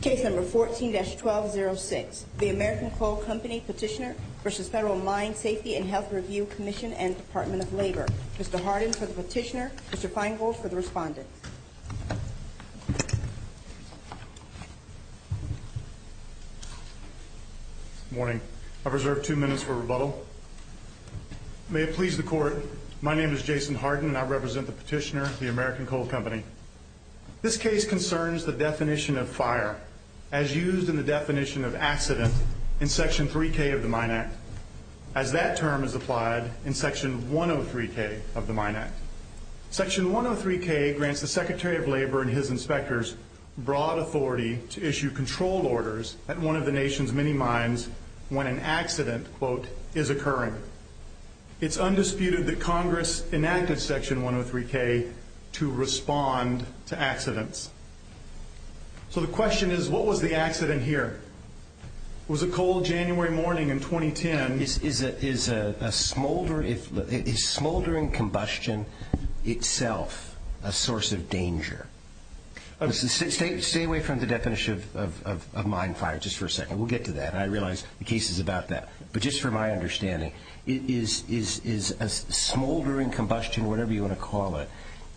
Case number 14-1206, the American Coal Company Petitioner v. Federal Mine Safety and Health Review Commission and Department of Labor. Mr. Harden for the petitioner, Mr. Feingold for the respondent. Good morning. I've reserved two minutes for rebuttal. May it please the court, my name is Jason Harden and I represent the petitioner, the American Coal Company. This case concerns the definition of fire as used in the definition of accident in Section 3K of the Mine Act, as that term is applied in Section 103K of the Mine Act. Section 103K grants the Secretary of Labor and his inspectors broad authority to issue control orders at one of the nation's many mines when an accident, quote, is occurring. It's undisputed that Congress enacted Section 103K to respond to accidents. So the question is, what was the accident here? Was it cold January morning in 2010? Is smoldering combustion itself a source of danger? Stay away from the definition of mine fire just for a second. We'll get to that. I realize the case is about that. But just for my understanding, is a smoldering combustion, whatever you want to call it,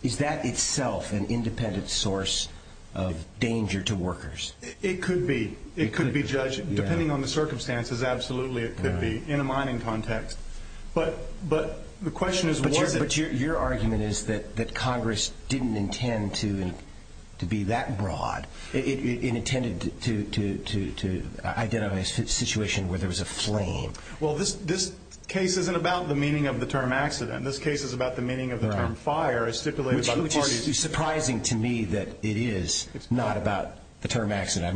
is that itself an independent source of danger to workers? It could be. It could be, Judge, depending on the circumstances, absolutely it could be in a mining context. But the question is, was it? But your argument is that Congress didn't intend to be that broad. It intended to identify a situation where there was a flame. Well, this case isn't about the meaning of the term accident. This case is about the meaning of the term fire as stipulated by the parties. Which is surprising to me that it is not about the term accident.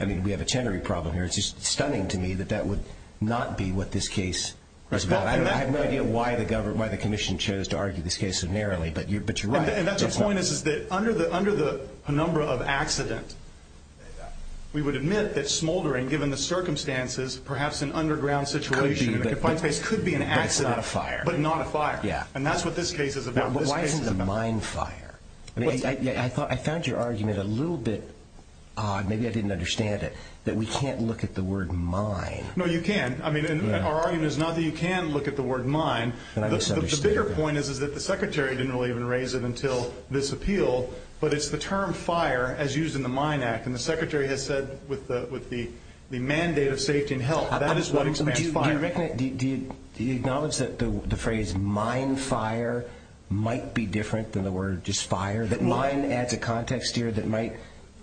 I mean, we have a Chenery problem here. It's just stunning to me that that would not be what this case is about. I have no idea why the Commission chose to argue this case so narrowly, but you're right. And that's the point, is that under the penumbra of accident, we would admit that smoldering, given the circumstances, perhaps an underground situation in a confined space, could be an accident. But not a fire. But not a fire. And that's what this case is about. But why isn't it a mine fire? I found your argument a little bit, maybe I didn't understand it, that we can't look at the word mine. No, you can. I mean, our argument is not that you can look at the word mine. The bigger point is that the Secretary didn't really even raise it until this appeal, but it's the term fire as used in the Mine Act. And the Secretary has said with the mandate of safety and health, that is what expands fire. Do you acknowledge that the phrase mine fire might be different than the word just fire? That mine adds a context here that might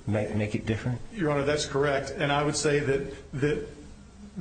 make it different? Your Honor, that's correct. And I would say that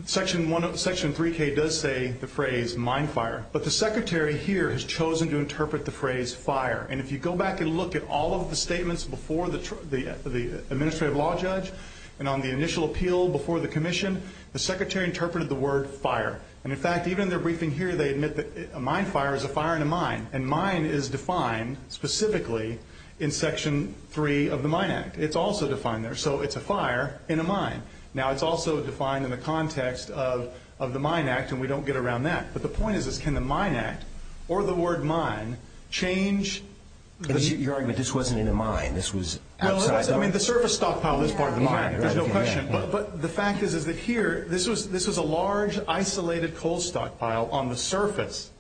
Section 3K does say the phrase mine fire. But the Secretary here has chosen to interpret the phrase fire. And if you go back and look at all of the statements before the administrative law judge and on the initial appeal before the commission, the Secretary interpreted the word fire. And, in fact, even in their briefing here, they admit that a mine fire is a fire in a mine. And mine is defined specifically in Section 3 of the Mine Act. It's also defined there. So it's a fire in a mine. Now, it's also defined in the context of the Mine Act, and we don't get around that. But the point is, is can the Mine Act or the word mine change? Your argument, this wasn't in a mine. This was outside the mine. I mean, the surface stockpile is part of the mine. There's no question. But the fact is that here, this was a large, isolated coal stockpile on the surface,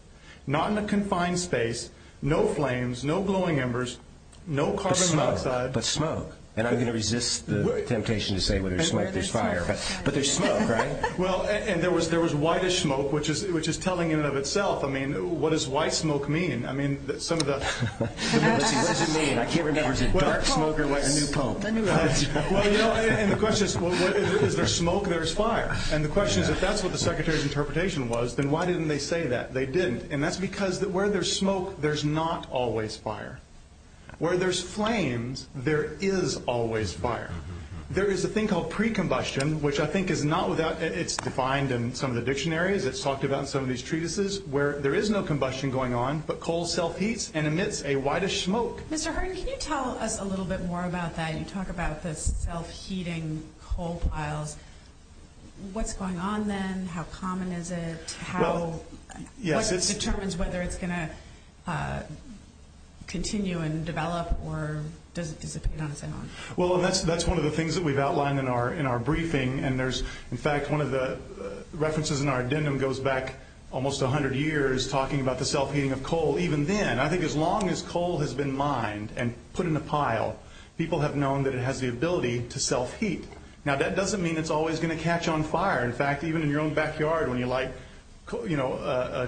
not in a confined space, no flames, no glowing embers, no carbon monoxide. But smoke. And I'm going to resist the temptation to say where there's smoke, there's fire. But there's smoke, right? Well, and there was whitish smoke, which is telling in and of itself. I mean, what does white smoke mean? I mean, some of the – What does it mean? I can't remember. Is it dark smoke or what? A new poem. Well, you know, and the question is, is there smoke or is there fire? And the question is, if that's what the Secretary's interpretation was, then why didn't they say that? They didn't. And that's because where there's smoke, there's not always fire. Where there's flames, there is always fire. There is a thing called pre-combustion, which I think is not without – it's defined in some of the dictionaries. It's talked about in some of these treatises where there is no combustion going on, but coal self-heats and emits a whitish smoke. Mr. Herndon, can you tell us a little bit more about that? You talk about the self-heating coal piles. What's going on then? How common is it? What determines whether it's going to continue and develop or does it dissipate on its own? Well, that's one of the things that we've outlined in our briefing. And, in fact, one of the references in our addendum goes back almost 100 years, talking about the self-heating of coal. Even then, I think as long as coal has been mined and put in a pile, people have known that it has the ability to self-heat. Now, that doesn't mean it's always going to catch on fire. In fact, even in your own backyard when you light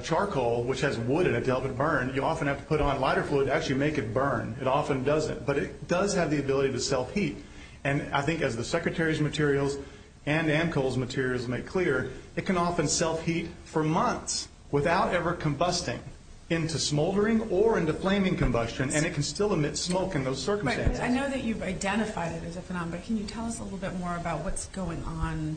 charcoal, which has wood in it to help it burn, you often have to put on lighter fluid to actually make it burn. It often doesn't. But it does have the ability to self-heat. And I think as the Secretary's materials and AMCO's materials make clear, it can often self-heat for months without ever combusting into smoldering or into flaming combustion, and it can still emit smoke in those circumstances. I know that you've identified it as a phenomenon, but can you tell us a little bit more about what's going on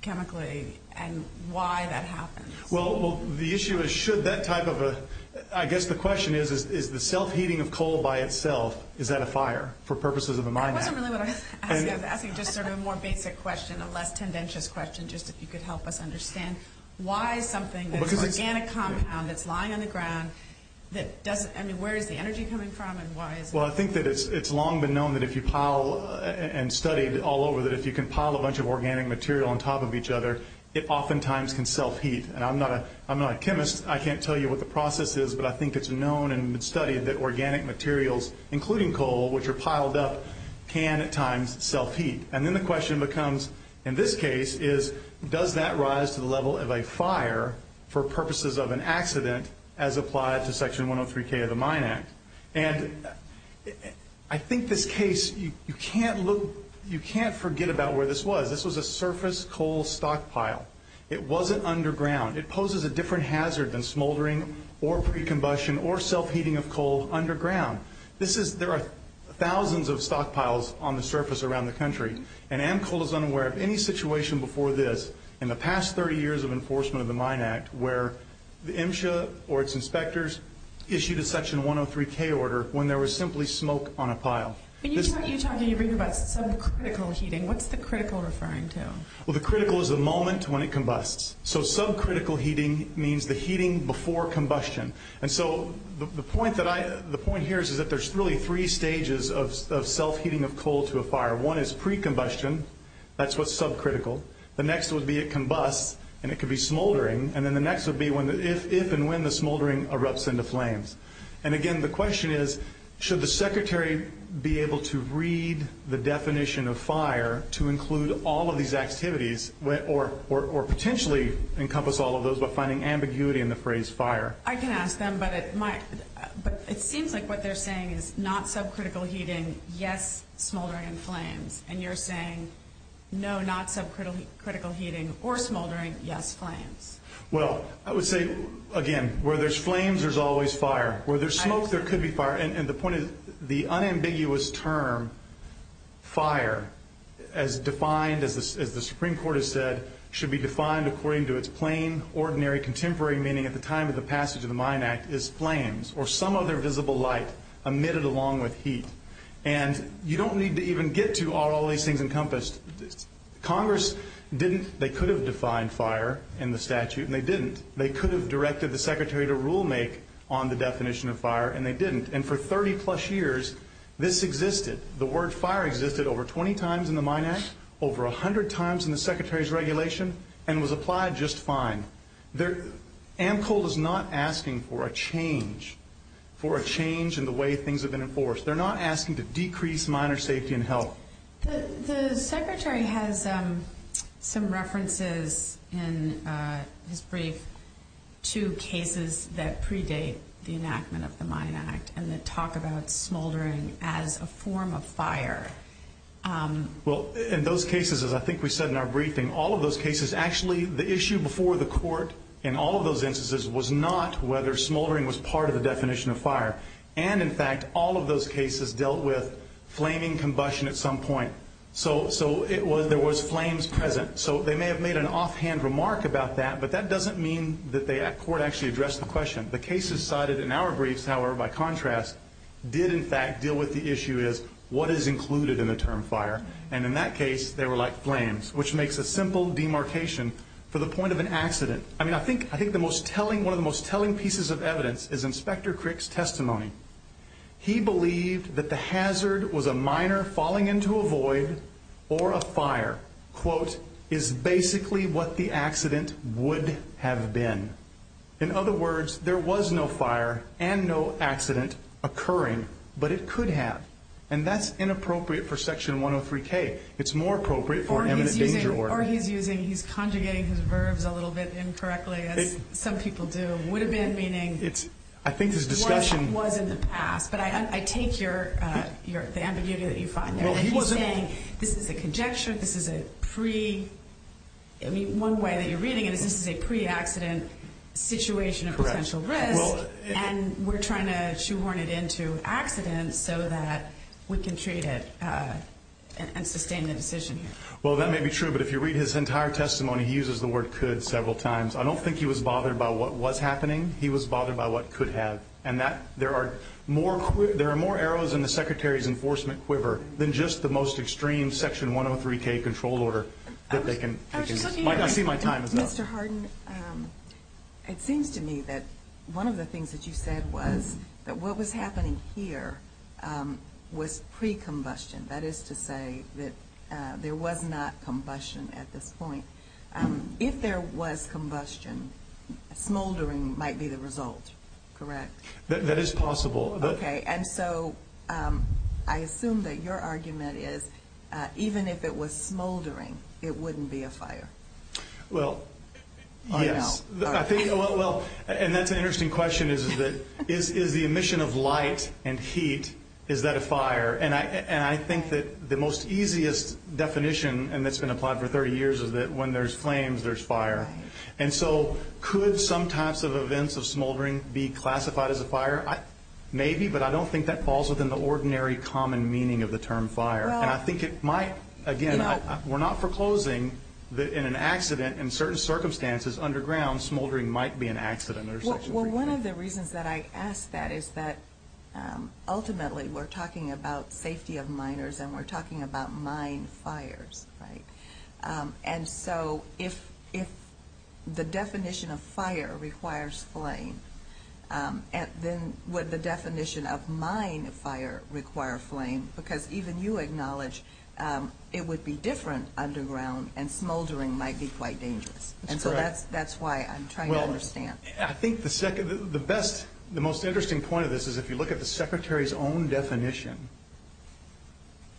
chemically and why that happens? Well, the issue is should that type of a – I guess the question is, is the self-heating of coal by itself, is that a fire for purposes of a mine? That wasn't really what I was asking. I was asking just sort of a more basic question, a less tendentious question, just if you could help us understand why something that's an organic compound, that's lying on the ground, that doesn't – I mean, where is the energy coming from and why is it – Well, I think that it's long been known that if you pile and studied all over, that if you can pile a bunch of organic material on top of each other, it oftentimes can self-heat. And I'm not a chemist. I can't tell you what the process is, but I think it's known and studied that organic materials, including coal, which are piled up, can at times self-heat. And then the question becomes, in this case, is does that rise to the level of a fire for purposes of an accident as applied to Section 103K of the Mine Act? And I think this case, you can't look – you can't forget about where this was. This was a surface coal stockpile. It wasn't underground. It poses a different hazard than smoldering or pre-combustion or self-heating of coal underground. This is – there are thousands of stockpiles on the surface around the country, and AMCO is unaware of any situation before this in the past 30 years of enforcement of the Mine Act where the MSHA or its inspectors issued a Section 103K order when there was simply smoke on a pile. When you talk about subcritical heating, what's the critical referring to? Well, the critical is the moment when it combusts. So subcritical heating means the heating before combustion. And so the point that I – the point here is that there's really three stages of self-heating of coal to a fire. One is pre-combustion. That's what's subcritical. The next would be it combusts, and it could be smoldering. And then the next would be when – if and when the smoldering erupts into flames. And, again, the question is, should the secretary be able to read the definition of fire to include all of these activities or potentially encompass all of those by finding ambiguity in the phrase fire? I can ask them, but it might – but it seems like what they're saying is not subcritical heating, yes, smoldering and flames. And you're saying no, not subcritical heating or smoldering, yes, flames. Well, I would say, again, where there's flames, there's always fire. Where there's smoke, there could be fire. And the point is the unambiguous term fire, as defined, as the Supreme Court has said, should be defined according to its plain, ordinary, contemporary meaning at the time of the passage of the Mine Act, is flames or some other visible light emitted along with heat. And you don't need to even get to all these things encompassed. Congress didn't – they could have defined fire in the statute, and they didn't. They could have directed the secretary to rule-make on the definition of fire, and they didn't. And for 30-plus years, this existed. The word fire existed over 20 times in the Mine Act, over 100 times in the secretary's regulation, and was applied just fine. AMCOL is not asking for a change, for a change in the way things have been enforced. They're not asking to decrease miner safety and health. The secretary has some references in his brief to cases that predate the enactment of the Mine Act and that talk about smoldering as a form of fire. Well, in those cases, as I think we said in our briefing, all of those cases actually – the issue before the court in all of those instances was not whether smoldering was part of the definition of fire. And, in fact, all of those cases dealt with flaming combustion at some point. So there was flames present. So they may have made an offhand remark about that, but that doesn't mean that the court actually addressed the question. The cases cited in our briefs, however, by contrast, did in fact deal with the issue is what is included in the term fire. And in that case, they were like flames, which makes a simple demarcation for the point of an accident. I mean, I think one of the most telling pieces of evidence is Inspector Crick's testimony. He believed that the hazard was a miner falling into a void or a fire, quote, is basically what the accident would have been. In other words, there was no fire and no accident occurring, but it could have. And that's inappropriate for Section 103K. It's more appropriate for an imminent danger order. Or he's using, he's conjugating his verbs a little bit incorrectly, as some people do. Would have been meaning what was in the past. But I take the ambiguity that you find there. He's saying this is a conjecture, this is a pre. I mean, one way that you're reading it is this is a pre-accident situation of potential risk. And we're trying to shoehorn it into accident so that we can treat it and sustain the decision. Well, that may be true, but if you read his entire testimony, he uses the word could several times. I don't think he was bothered by what was happening. He was bothered by what could have. And there are more arrows in the Secretary's enforcement quiver than just the most extreme Section 103K control order. I see my time is up. Mr. Harden, it seems to me that one of the things that you said was that what was happening here was pre-combustion. That is to say that there was not combustion at this point. If there was combustion, smoldering might be the result, correct? That is possible. Okay. And so I assume that your argument is even if it was smoldering, it wouldn't be a fire. Well, yes. And that's an interesting question, is the emission of light and heat, is that a fire? And I think that the most easiest definition, and it's been applied for 30 years, is that when there's flames, there's fire. And so could some types of events of smoldering be classified as a fire? Maybe, but I don't think that falls within the ordinary common meaning of the term fire. And I think it might. Again, we're not foreclosing that in an accident in certain circumstances underground, smoldering might be an accident under Section 103K. Well, one of the reasons that I ask that is that ultimately we're talking about safety of miners and we're talking about mine fires, right? And so if the definition of fire requires flame, then would the definition of mine fire require flame? Because even you acknowledge it would be different underground and smoldering might be quite dangerous. That's correct. And so that's why I'm trying to understand. I think the best, the most interesting point of this is if you look at the Secretary's own definition,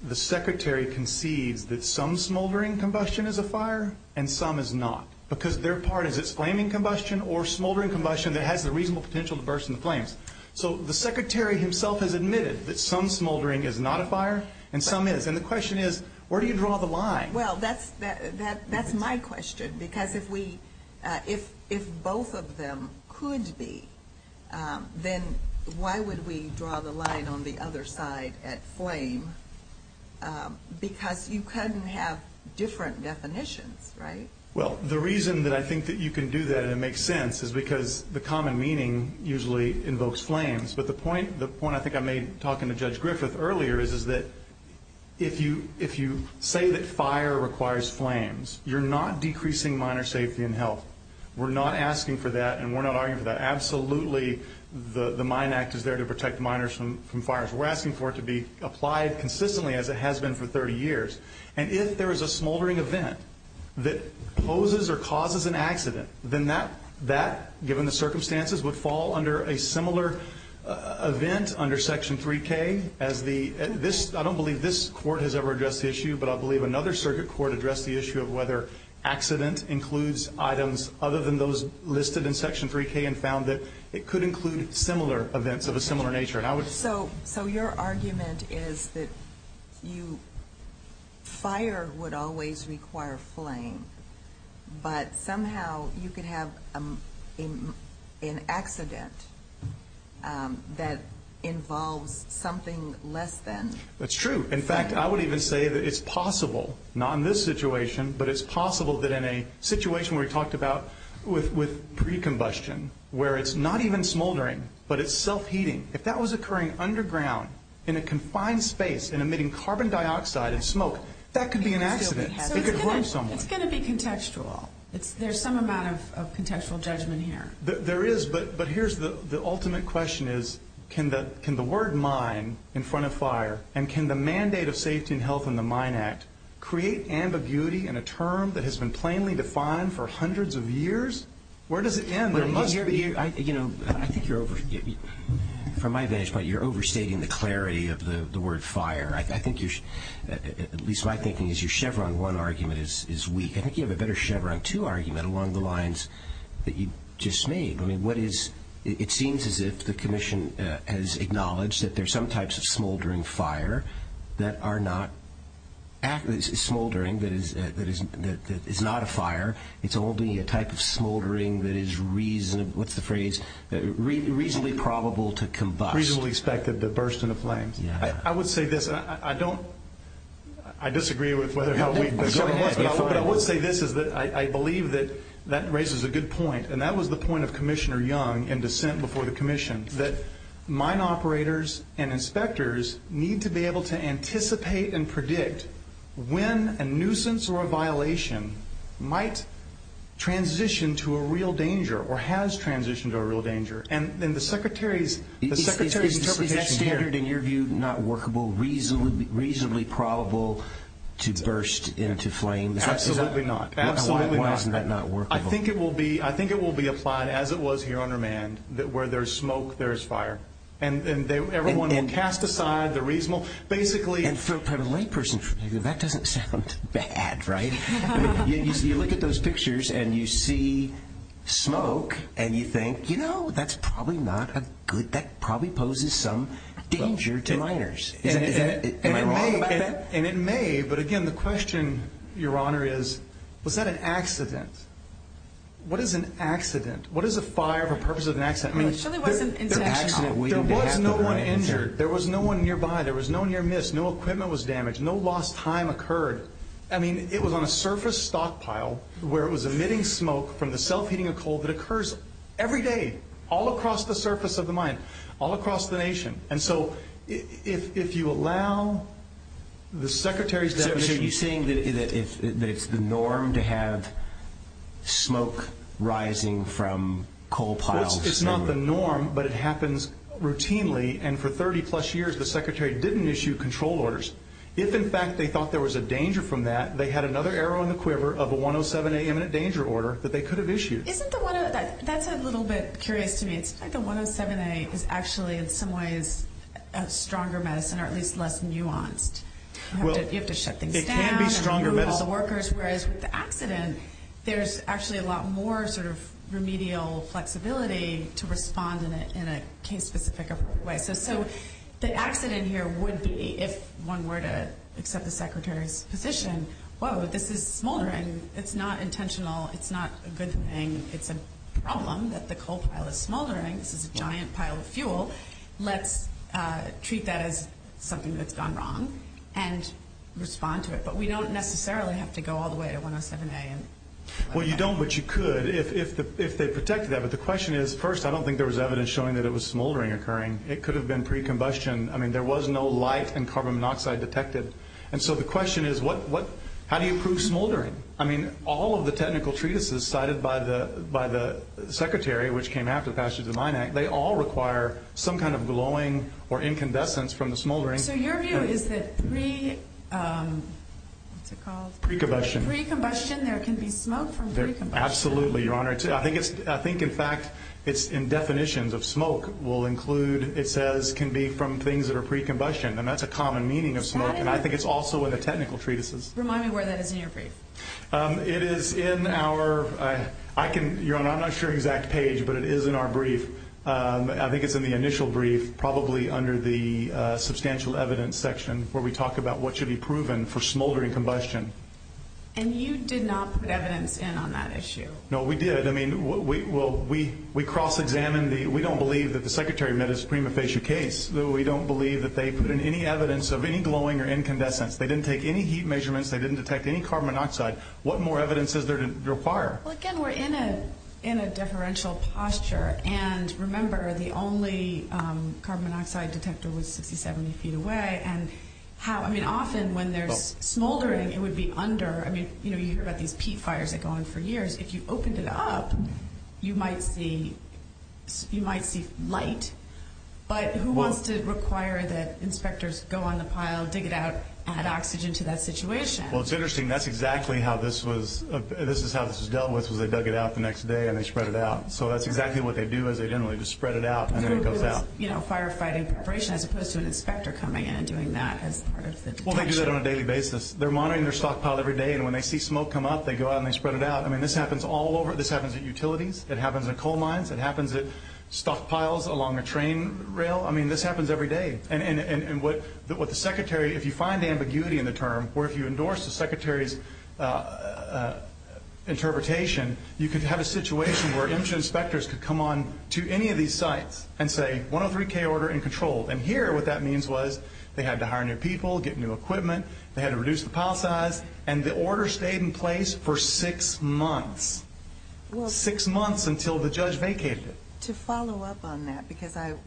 the Secretary concedes that some smoldering combustion is a fire and some is not, because their part is it's flaming combustion or smoldering combustion that has the reasonable potential to burst into flames. So the Secretary himself has admitted that some smoldering is not a fire and some is. And the question is, where do you draw the line? Well, that's my question, because if both of them could be, then why would we draw the line on the other side at flame? Because you couldn't have different definitions, right? Well, the reason that I think that you can do that and it makes sense is because the common meaning usually invokes flames. But the point I think I made talking to Judge Griffith earlier is that if you say that fire requires flames, you're not decreasing miner safety and health. We're not asking for that and we're not arguing for that. Absolutely the Mine Act is there to protect miners from fires. We're asking for it to be applied consistently as it has been for 30 years. And if there is a smoldering event that poses or causes an accident, then that, given the circumstances, would fall under a similar event under Section 3K. I don't believe this court has ever addressed the issue, but I believe another circuit court addressed the issue of whether accident includes items other than those listed in Section 3K and found that it could include similar events of a similar nature. So your argument is that fire would always require flame, but somehow you could have an accident that involves something less than. That's true. In fact, I would even say that it's possible, not in this situation, but it's possible that in a situation we talked about with pre-combustion, where it's not even smoldering, but it's self-heating. If that was occurring underground in a confined space and emitting carbon dioxide and smoke, that could be an accident. It could hurt someone. It's going to be contextual. There's some amount of contextual judgment here. There is, but here's the ultimate question is can the word mine in front of fire and can the mandate of safety and health in the Mine Act create ambiguity in a term that has been plainly defined for hundreds of years? Where does it end? From my vantage point, you're overstating the clarity of the word fire. At least my thinking is your Chevron 1 argument is weak. I think you have a better Chevron 2 argument along the lines that you just made. It seems as if the Commission has acknowledged that there are some types of smoldering fire that is not a fire. It's only a type of smoldering that is reasonably probable to combust. Reasonably expected to burst into flames. I would say this. I disagree with whether or how weak the government was, but I would say this is that I believe that that raises a good point, and that was the point of Commissioner Young in dissent before the Commission, that mine operators and inspectors need to be able to anticipate and predict when a nuisance or a violation might transition to a real danger or has transitioned to a real danger. And the Secretary's interpretation here. Is that standard in your view not workable, reasonably probable to burst into flames? Absolutely not. Absolutely not. Why isn't that not workable? I think it will be applied as it was here on remand where there's smoke, there's fire. And everyone will cast aside the reasonable. And from a layperson's perspective, that doesn't sound bad, right? You look at those pictures and you see smoke and you think, you know, that's probably not good. That probably poses some danger to miners. Am I wrong about that? And it may, but, again, the question, Your Honor, is was that an accident? What is an accident? What is a fire for the purpose of an accident? There was no one injured. There was no one nearby. There was no near miss. No equipment was damaged. No lost time occurred. I mean, it was on a surface stockpile where it was emitting smoke from the self-heating of coal that occurs every day all across the surface of the mine, all across the nation. And so if you allow the Secretary's definition. So are you saying that it's the norm to have smoke rising from coal piles? It's not the norm, but it happens routinely. And for 30-plus years the Secretary didn't issue control orders. If, in fact, they thought there was a danger from that, they had another arrow in the quiver of a 107A imminent danger order that they could have issued. That's a little bit curious to me. It's like the 107A is actually in some ways a stronger medicine or at least less nuanced. You have to shut things down. It can be stronger medicine. Remove all the workers. Whereas with the accident, there's actually a lot more sort of remedial flexibility to respond in a case-specific way. So the accident here would be if one were to accept the Secretary's position, whoa, this is smoldering. It's not intentional. It's not a good thing. It's a problem that the coal pile is smoldering. This is a giant pile of fuel. Let's treat that as something that's gone wrong and respond to it. But we don't necessarily have to go all the way to 107A. Well, you don't, but you could if they protected that. But the question is, first, I don't think there was evidence showing that it was smoldering occurring. It could have been pre-combustion. I mean, there was no light and carbon monoxide detected. And so the question is, how do you prove smoldering? I mean, all of the technical treatises cited by the Secretary, which came after the Passage of the Mine Act, they all require some kind of glowing or incandescence from the smoldering. So your view is that pre-combustion, there can be smoke from pre-combustion. Absolutely, Your Honor. I think, in fact, it's in definitions of smoke will include, it says, can be from things that are pre-combustion. And that's a common meaning of smoke, and I think it's also in the technical treatises. Remind me where that is in your brief. It is in our, I'm not sure of the exact page, but it is in our brief. I think it's in the initial brief, probably under the substantial evidence section, where we talk about what should be proven for smoldering combustion. And you did not put evidence in on that issue? No, we did. I mean, we cross-examined the, we don't believe that the Secretary met his prima facie case. We don't believe that they put in any evidence of any glowing or incandescence. They didn't take any heat measurements. They didn't detect any carbon monoxide. What more evidence is there to require? Well, again, we're in a deferential posture. And remember, the only carbon monoxide detector was 60, 70 feet away. And how, I mean, often when there's smoldering, it would be under, I mean, you know, you've got these peat fires that go on for years. If you opened it up, you might see light. But who wants to require that inspectors go on the pile, dig it out, add oxygen to that situation? Well, it's interesting. That's exactly how this was, this is how this was dealt with, was they dug it out the next day and they spread it out. So that's exactly what they do is they generally just spread it out and then it goes out. So it was, you know, firefighting preparation as opposed to an inspector coming in and doing that as part of the detection. Well, they do that on a daily basis. They're monitoring their stockpile every day, and when they see smoke come up, they go out and they spread it out. I mean, this happens all over. This happens at utilities. It happens at coal mines. It happens at stockpiles along a train rail. I mean, this happens every day. And what the secretary, if you find ambiguity in the term, or if you endorse the secretary's interpretation, you could have a situation where inspection inspectors could come on to any of these sites and say, 103K order in control. And here what that means was they had to hire new people, get new equipment. They had to reduce the pile size, and the order stayed in place for six months. Six months until the judge vacated it. To follow up on that, because I'm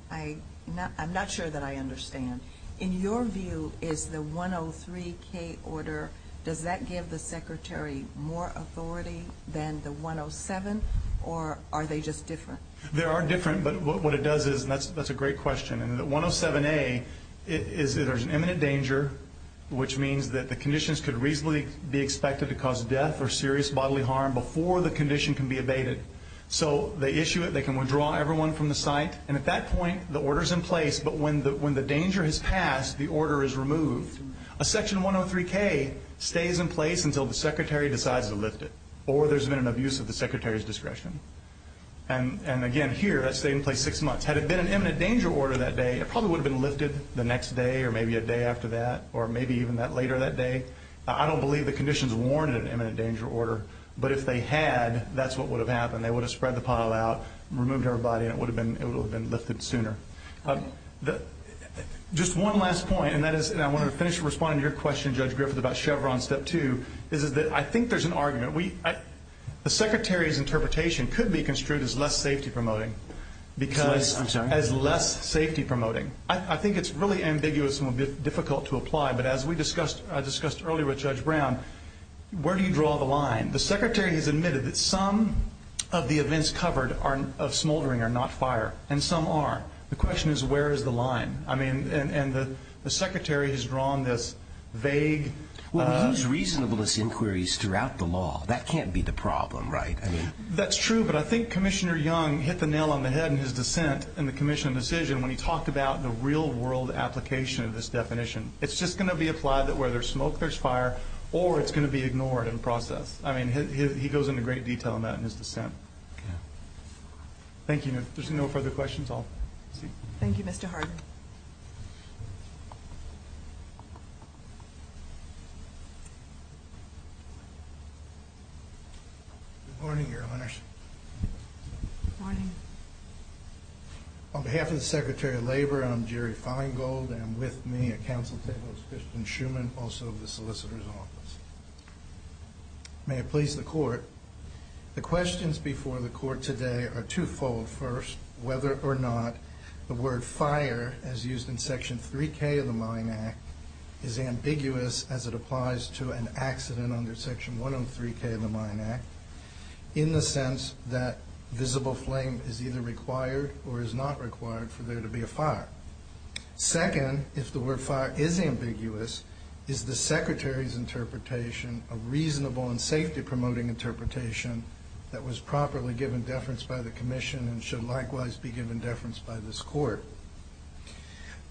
not sure that I understand, in your view, is the 103K order, does that give the secretary more authority than the 107, or are they just different? They are different, but what it does is, and that's a great question, and the 107A is that there's an imminent danger, which means that the conditions could reasonably be expected to cause death or serious bodily harm before the condition can be abated. So they issue it, they can withdraw everyone from the site, and at that point the order's in place, but when the danger has passed, the order is removed. A section 103K stays in place until the secretary decides to lift it, or there's been an abuse of the secretary's discretion. And, again, here that stayed in place six months. Had it been an imminent danger order that day, it probably would have been lifted the next day or maybe a day after that, or maybe even later that day. I don't believe the conditions warranted an imminent danger order, but if they had, that's what would have happened. They would have spread the pile out, removed everybody, and it would have been lifted sooner. Just one last point, and I want to finish responding to your question, Judge Griffith, about Chevron Step 2, is that I think there's an argument. The secretary's interpretation could be construed as less safety promoting because as less safety promoting. I think it's really ambiguous and difficult to apply, but as I discussed earlier with Judge Brown, where do you draw the line? The secretary has admitted that some of the events covered of smoldering are not fire, and some are. The question is where is the line? I mean, and the secretary has drawn this vague. Well, we use reasonableness inquiries throughout the law. That can't be the problem, right? That's true, but I think Commissioner Young hit the nail on the head in his dissent in the commission decision when he talked about the real-world application of this definition. It's just going to be applied that where there's smoke, there's fire, or it's going to be ignored and processed. I mean, he goes into great detail on that in his dissent. Thank you. If there's no further questions, I'll see you. Thank you, Mr. Harden. Good morning, Your Honors. Good morning. On behalf of the Secretary of Labor, I'm Jerry Feingold, and with me at council table is Kristen Schuman, also of the Solicitor's Office. May it please the Court, the questions before the Court today are twofold. First, whether or not the word fire, as used in Section 3K of the Mine Act, is ambiguous as it applies to an accident under Section 103K of the Mine Act, in the sense that visible flame is either required or is not required for there to be a fire. Second, if the word fire is ambiguous, is the Secretary's interpretation a reasonable and safety-promoting interpretation that was properly given deference by the Commission and should likewise be given deference by this Court?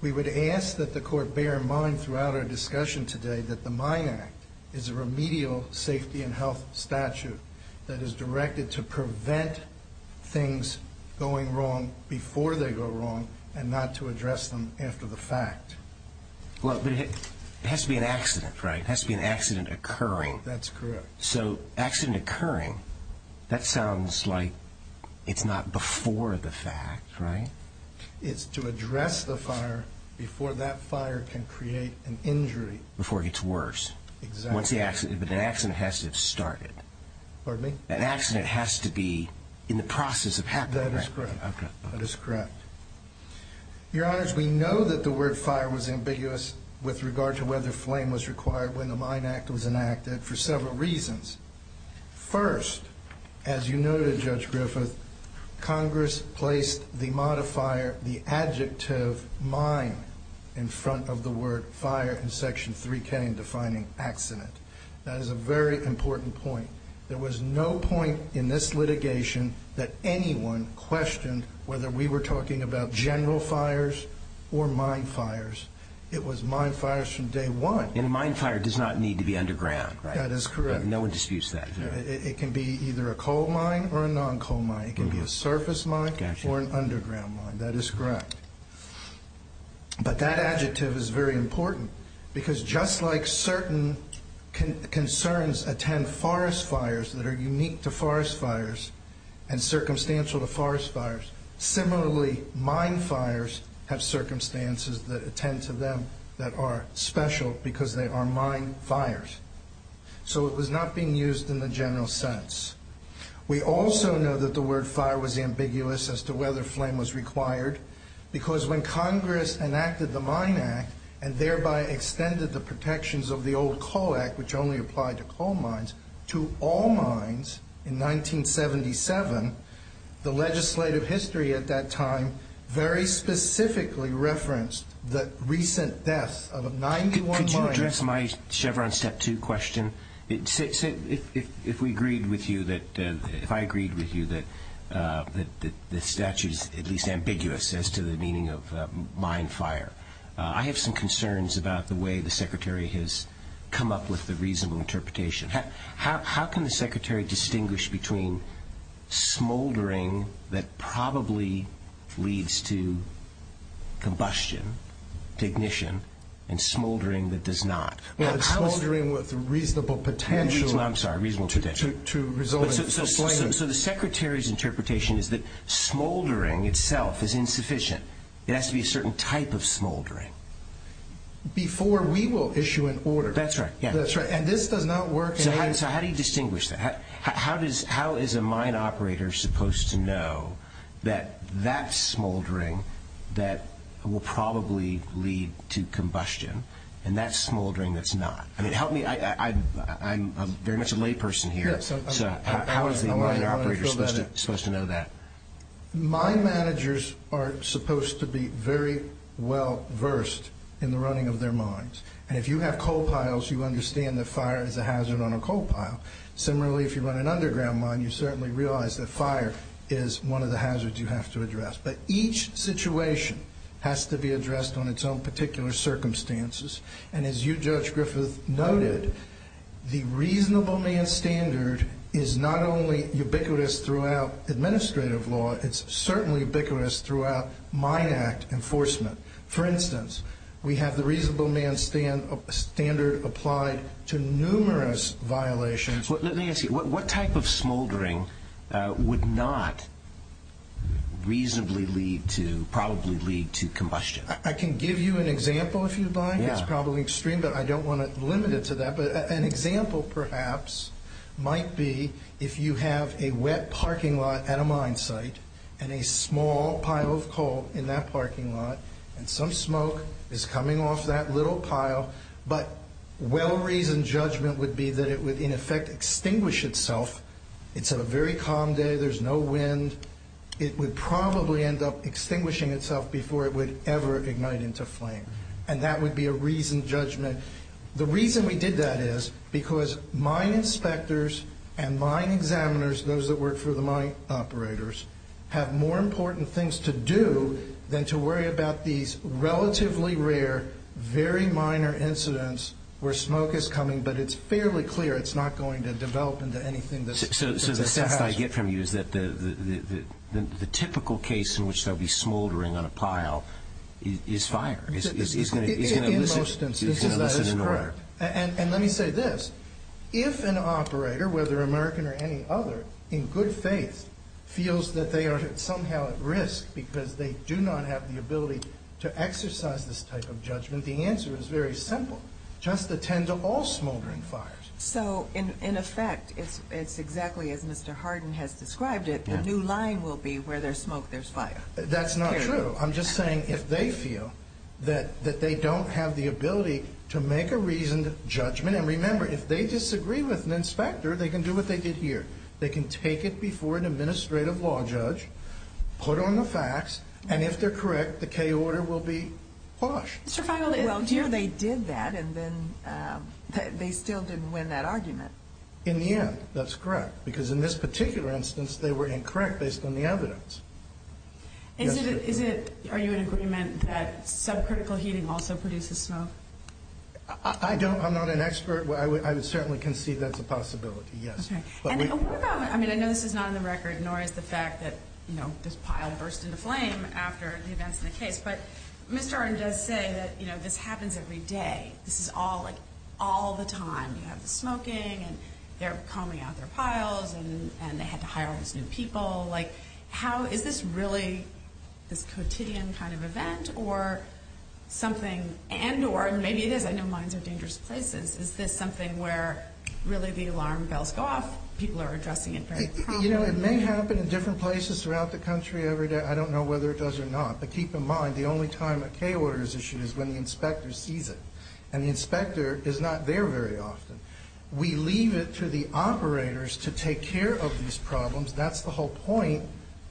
We would ask that the Court bear in mind throughout our discussion today that the Mine Act is a remedial safety and health statute that is directed to prevent things going wrong before they go wrong and not to address them after the fact. Well, but it has to be an accident, right? It has to be an accident occurring. That's correct. So accident occurring, that sounds like it's not before the fact, right? It's to address the fire before that fire can create an injury. Before it gets worse. Exactly. But an accident has to have started. Pardon me? An accident has to be in the process of happening, right? That is correct. That is correct. Your Honors, we know that the word fire was ambiguous with regard to whether flame was required when the Mine Act was enacted for several reasons. First, as you noted, Judge Griffith, Congress placed the modifier, the adjective, mine, in front of the word fire in Section 3K in defining accident. That is a very important point. There was no point in this litigation that anyone questioned whether we were talking about general fires or mine fires. It was mine fires from day one. A mine fire does not need to be underground, right? That is correct. No one disputes that. It can be either a coal mine or a non-coal mine. It can be a surface mine or an underground mine. That is correct. But that adjective is very important because just like certain concerns attend forest fires that are unique to forest fires and circumstantial to forest fires, similarly mine fires have circumstances that attend to them that are special because they are mine fires. So it was not being used in the general sense. We also know that the word fire was ambiguous as to whether flame was required because when Congress enacted the Mine Act and thereby extended the protections of the old Coal Act, which only applied to coal mines, to all mines in 1977, the legislative history at that time very specifically referenced the recent deaths of 91 mines. Could you address my Chevron Step 2 question? If I agreed with you that the statute is at least ambiguous as to the meaning of mine fire, I have some concerns about the way the Secretary has come up with the reasonable interpretation. How can the Secretary distinguish between smoldering that probably leads to combustion, to ignition, and smoldering that does not? Smoldering with reasonable potential. I'm sorry, reasonable potential. So the Secretary's interpretation is that smoldering itself is insufficient. It has to be a certain type of smoldering. Before we will issue an order. That's right. And this does not work. So how do you distinguish that? How is a mine operator supposed to know that that's smoldering that will probably lead to combustion and that's smoldering that's not? I mean, help me. I'm very much a layperson here. So how is the mine operator supposed to know that? Mine managers are supposed to be very well versed in the running of their mines. And if you have coal piles, you understand that fire is a hazard on a coal pile. Similarly, if you run an underground mine, you certainly realize that fire is one of the hazards you have to address. But each situation has to be addressed on its own particular circumstances. And as you, Judge Griffith, noted, the reasonable man standard is not only ubiquitous throughout administrative law, it's certainly ubiquitous throughout mine act enforcement. For instance, we have the reasonable man standard applied to numerous violations. Let me ask you, what type of smoldering would not reasonably lead to, probably lead to combustion? I can give you an example if you'd like. It's probably extreme, but I don't want to limit it to that. But an example, perhaps, might be if you have a wet parking lot at a mine site and a small pile of coal in that parking lot, and some smoke is coming off that little pile. But well-reasoned judgment would be that it would, in effect, extinguish itself. It's a very calm day. There's no wind. It would probably end up extinguishing itself before it would ever ignite into flame. And that would be a reasoned judgment. The reason we did that is because mine inspectors and mine examiners, those that work for the mine operators, have more important things to do than to worry about these relatively rare, very minor incidents where smoke is coming, but it's fairly clear it's not going to develop into anything that's a hazard. So the sense I get from you is that the typical case in which there will be smoldering on a pile is fire. In most instances, that is correct. And let me say this. If an operator, whether American or any other, in good faith, feels that they are somehow at risk because they do not have the ability to exercise this type of judgment, the answer is very simple. Just attend to all smoldering fires. So, in effect, it's exactly as Mr. Hardin has described it. The new line will be where there's smoke, there's fire. That's not true. I'm just saying if they feel that they don't have the ability to make a reasoned judgment, and remember, if they disagree with an inspector, they can do what they did here. They can take it before an administrative law judge, put on the facts, and if they're correct, the K order will be hushed. Well, here they did that, and then they still didn't win that argument. In the end, that's correct, because in this particular instance, they were incorrect based on the evidence. Are you in agreement that subcritical heating also produces smoke? I don't. I'm not an expert. I would certainly concede that's a possibility, yes. Okay. And what about, I mean, I know this is not on the record, nor is the fact that, you know, this pile burst into flame after the events in the case, but Mr. Hardin does say that, you know, this happens every day. This is all, like, all the time. You have the smoking, and they're combing out their piles, and they had to hire all these new people. Like, how is this really this quotidian kind of event, or something, and or? And maybe it is. I know mines are dangerous places. Is this something where really the alarm bells go off, people are addressing it very promptly? You know, it may happen in different places throughout the country every day. I don't know whether it does or not. But keep in mind, the only time a K order is issued is when the inspector sees it, and the inspector is not there very often. We leave it to the operators to take care of these problems. That's the whole point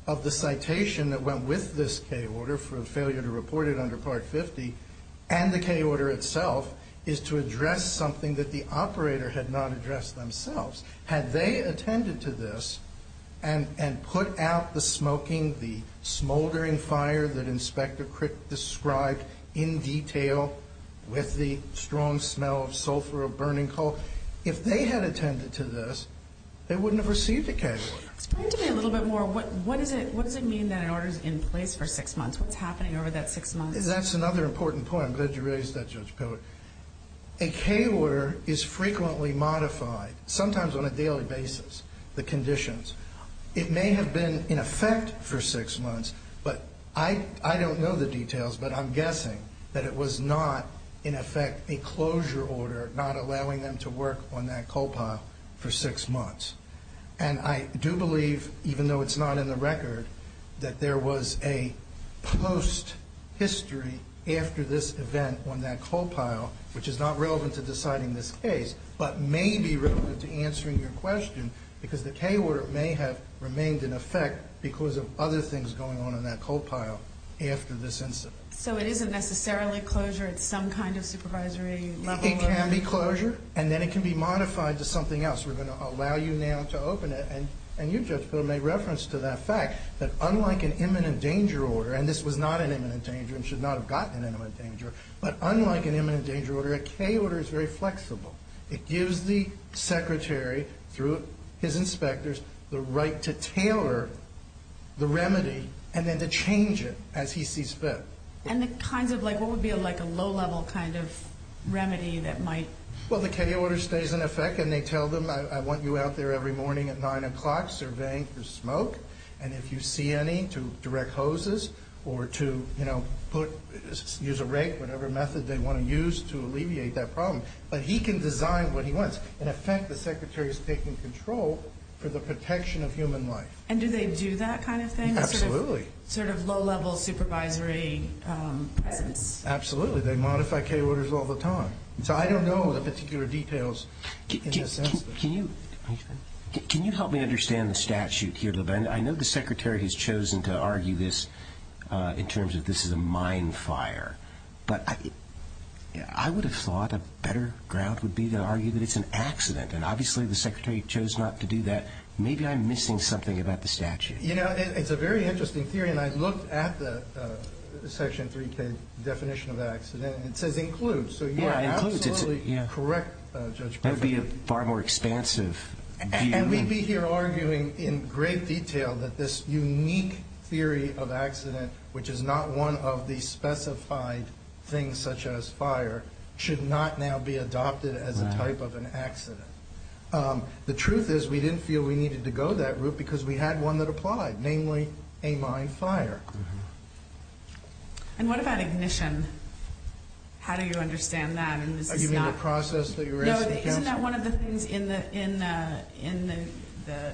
of the citation that went with this K order, for a failure to report it under Part 50, and the K order itself is to address something that the operator had not addressed themselves. Had they attended to this and put out the smoking, the smoldering fire that Inspector Crick described in detail, with the strong smell of sulfur or burning coal, if they had attended to this, they wouldn't have received a K order. Explain to me a little bit more. What does it mean that an order is in place for six months? What's happening over that six months? That's another important point. I'm glad you raised that, Judge Pillard. A K order is frequently modified, sometimes on a daily basis, the conditions. It may have been in effect for six months, but I don't know the details, but I'm guessing that it was not, in effect, a closure order, not allowing them to work on that coal pile for six months. I do believe, even though it's not in the record, that there was a post-history after this event on that coal pile, which is not relevant to deciding this case, but may be relevant to answering your question, because the K order may have remained in effect because of other things going on in that coal pile after this incident. So it isn't necessarily closure at some kind of supervisory level? It can be closure, and then it can be modified to something else. We're going to allow you now to open it, and you, Judge Pillard, made reference to that fact, that unlike an imminent danger order, and this was not an imminent danger and should not have gotten an imminent danger, but unlike an imminent danger order, a K order is very flexible. It gives the secretary, through his inspectors, the right to tailor the remedy and then to change it as he sees fit. And what would be a low-level kind of remedy that might... Well, the K order stays in effect, and they tell them, I want you out there every morning at 9 o'clock surveying for smoke, and if you see any, to direct hoses or to use a rake, whatever method they want to use to alleviate that problem. But he can design what he wants. In effect, the secretary is taking control for the protection of human life. And do they do that kind of thing? Absolutely. Sort of low-level supervisory presence? Absolutely. They modify K orders all the time. So I don't know the particular details in this instance. Can you help me understand the statute here? I know the secretary has chosen to argue this in terms of this is a mine fire, but I would have thought a better ground would be to argue that it's an accident, and obviously the secretary chose not to do that. Maybe I'm missing something about the statute. You know, it's a very interesting theory, and I looked at the Section 3K definition of accident, and it says includes. So you're absolutely correct, Judge Berger. That would be a far more expansive view. And we'd be here arguing in great detail that this unique theory of accident, which is not one of the specified things such as fire, should not now be adopted as a type of an accident. The truth is we didn't feel we needed to go that route because we had one that applied, namely a mine fire. And what about ignition? How do you understand that? You mean the process that you're asking counsel? No, isn't that one of the things in the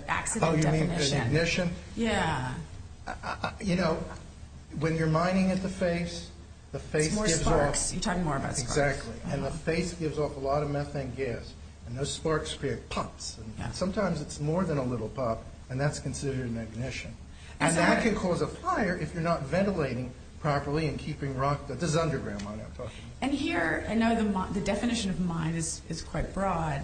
accident definition? Oh, you mean the ignition? Yeah. You know, when you're mining at the face, the face gives off. It's more sparks. You're talking more about sparks. Exactly. And the face gives off a lot of methane gas, and those sparks create pops. Sometimes it's more than a little pop, and that's considered an ignition. And that can cause a fire if you're not ventilating properly and keeping rock. This is underground mine I'm talking about. And here, I know the definition of mine is quite broad,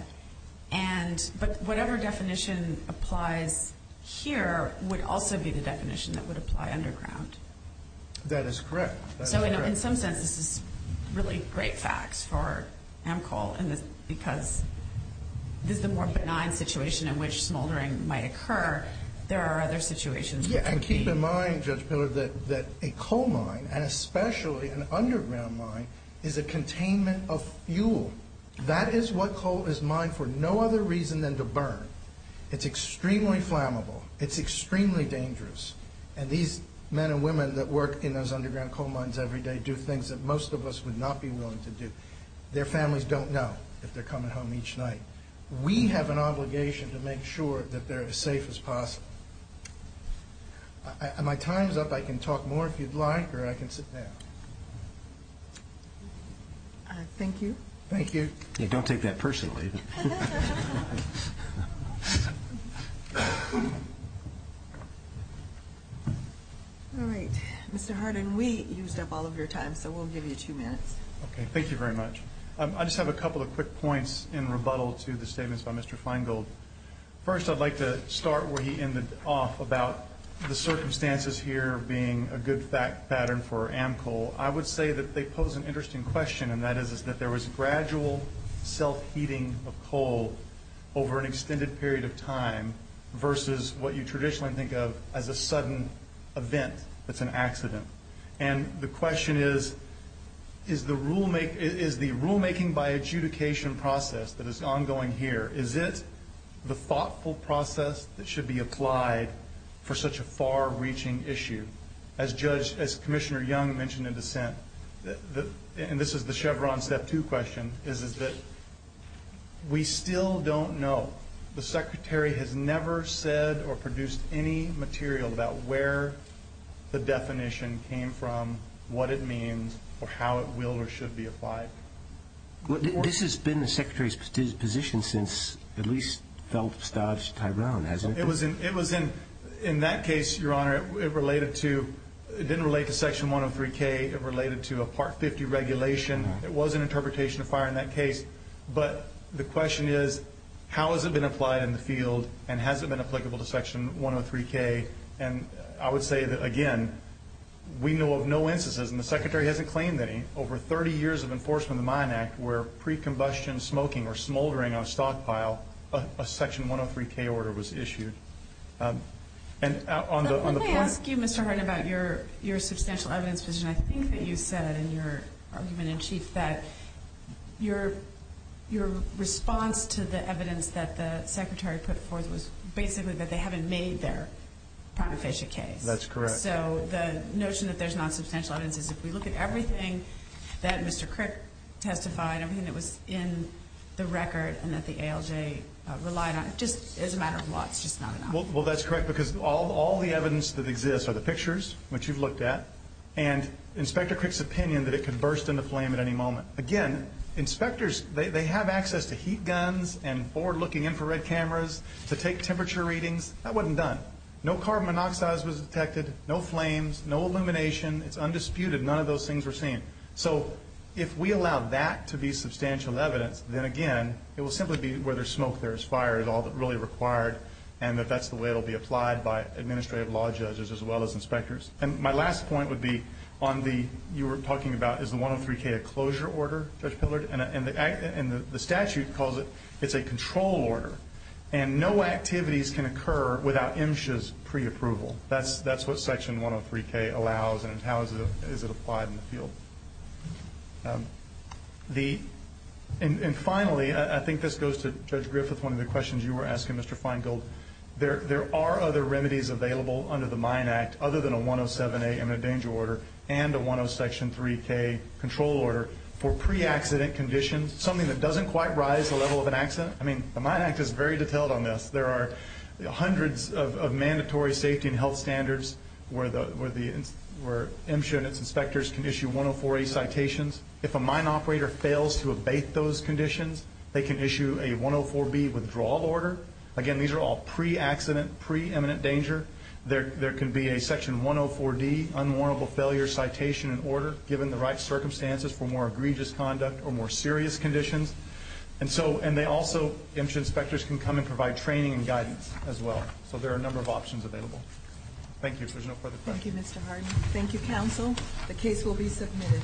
but whatever definition applies here would also be the definition that would apply underground. That is correct. So in some sense, this is really great facts for Amcoal because this is a more benign situation in which smoldering might occur. There are other situations which would be. Yeah, and keep in mind, Judge Pillard, that a coal mine, and especially an underground mine, is a containment of fuel. That is what coal is mined for no other reason than to burn. It's extremely flammable. It's extremely dangerous. And these men and women that work in those underground coal mines every day do things that most of us would not be willing to do. Their families don't know if they're coming home each night. We have an obligation to make sure that they're as safe as possible. My time's up. I can talk more if you'd like, or I can sit down. Thank you. Thank you. Don't take that personally. All right. Mr. Hardin, we used up all of your time, so we'll give you two minutes. Okay. Thank you very much. I just have a couple of quick points in rebuttal to the statements by Mr. Feingold. First, I'd like to start where he ended off about the circumstances here being a good pattern for AmCoal. I would say that they pose an interesting question, and that is that there was gradual self-heating of coal over an extended period of time versus what you traditionally think of as a sudden event that's an accident. And the question is, is the rulemaking by adjudication process that is ongoing here, is it the thoughtful process that should be applied for such a far-reaching issue? As Commissioner Young mentioned in dissent, and this is the Chevron Step 2 question, is that we still don't know. The Secretary has never said or produced any material about where the definition came from, what it means, or how it will or should be applied. This has been the Secretary's position since at least Feldstaff's Tyrone, hasn't it? It was in that case, Your Honor. It didn't relate to Section 103K. It related to a Part 50 regulation. It was an interpretation of fire in that case. But the question is, how has it been applied in the field, and has it been applicable to Section 103K? And I would say that, again, we know of no instances, and the Secretary hasn't claimed any, over 30 years of enforcement of the Mine Act where pre-combustion smoking or smoldering on a stockpile a Section 103K order was issued. Let me ask you, Mr. Harden, about your substantial evidence position. I think that you said in your argument in chief that your response to the evidence that the Secretary put forth was basically that they haven't made their prima facie case. That's correct. So the notion that there's not substantial evidence is if we look at everything that Mr. Crick testified, everything that was in the record and that the ALJ relied on, just as a matter of what, it's just not enough. Well, that's correct because all the evidence that exists are the pictures, which you've looked at, and Inspector Crick's opinion that it could burst into flame at any moment. Again, inspectors, they have access to heat guns and forward-looking infrared cameras to take temperature readings. That wasn't done. No carbon monoxides was detected, no flames, no illumination. It's undisputed. None of those things were seen. So if we allow that to be substantial evidence, then, again, it will simply be where there's smoke, there's fire is all that's really required, and that that's the way it will be applied by administrative law judges as well as inspectors. And my last point would be on the, you were talking about, is the 103K a closure order, Judge Pillard, and the statute calls it it's a control order, and no activities can occur without MSHA's preapproval. That's what Section 103K allows, and how is it applied in the field. And finally, I think this goes to Judge Griffith, one of the questions you were asking, Mr. Feingold, there are other remedies available under the Mine Act other than a 107A and a danger order and a 103K control order for pre-accident conditions, something that doesn't quite rise to the level of an accident. I mean, the Mine Act is very detailed on this. There are hundreds of mandatory safety and health standards where MSHA and its inspectors can issue 104A citations. If a mine operator fails to abate those conditions, they can issue a 104B withdrawal order. Again, these are all pre-accident, preeminent danger. There can be a Section 104D unwarrantable failure citation and order, given the right circumstances for more egregious conduct or more serious conditions. And they also, MSHA inspectors can come and provide training and guidance as well. So there are a number of options available. Thank you. If there's no further questions. Thank you, Mr. Harden. Thank you, counsel. The case will be submitted.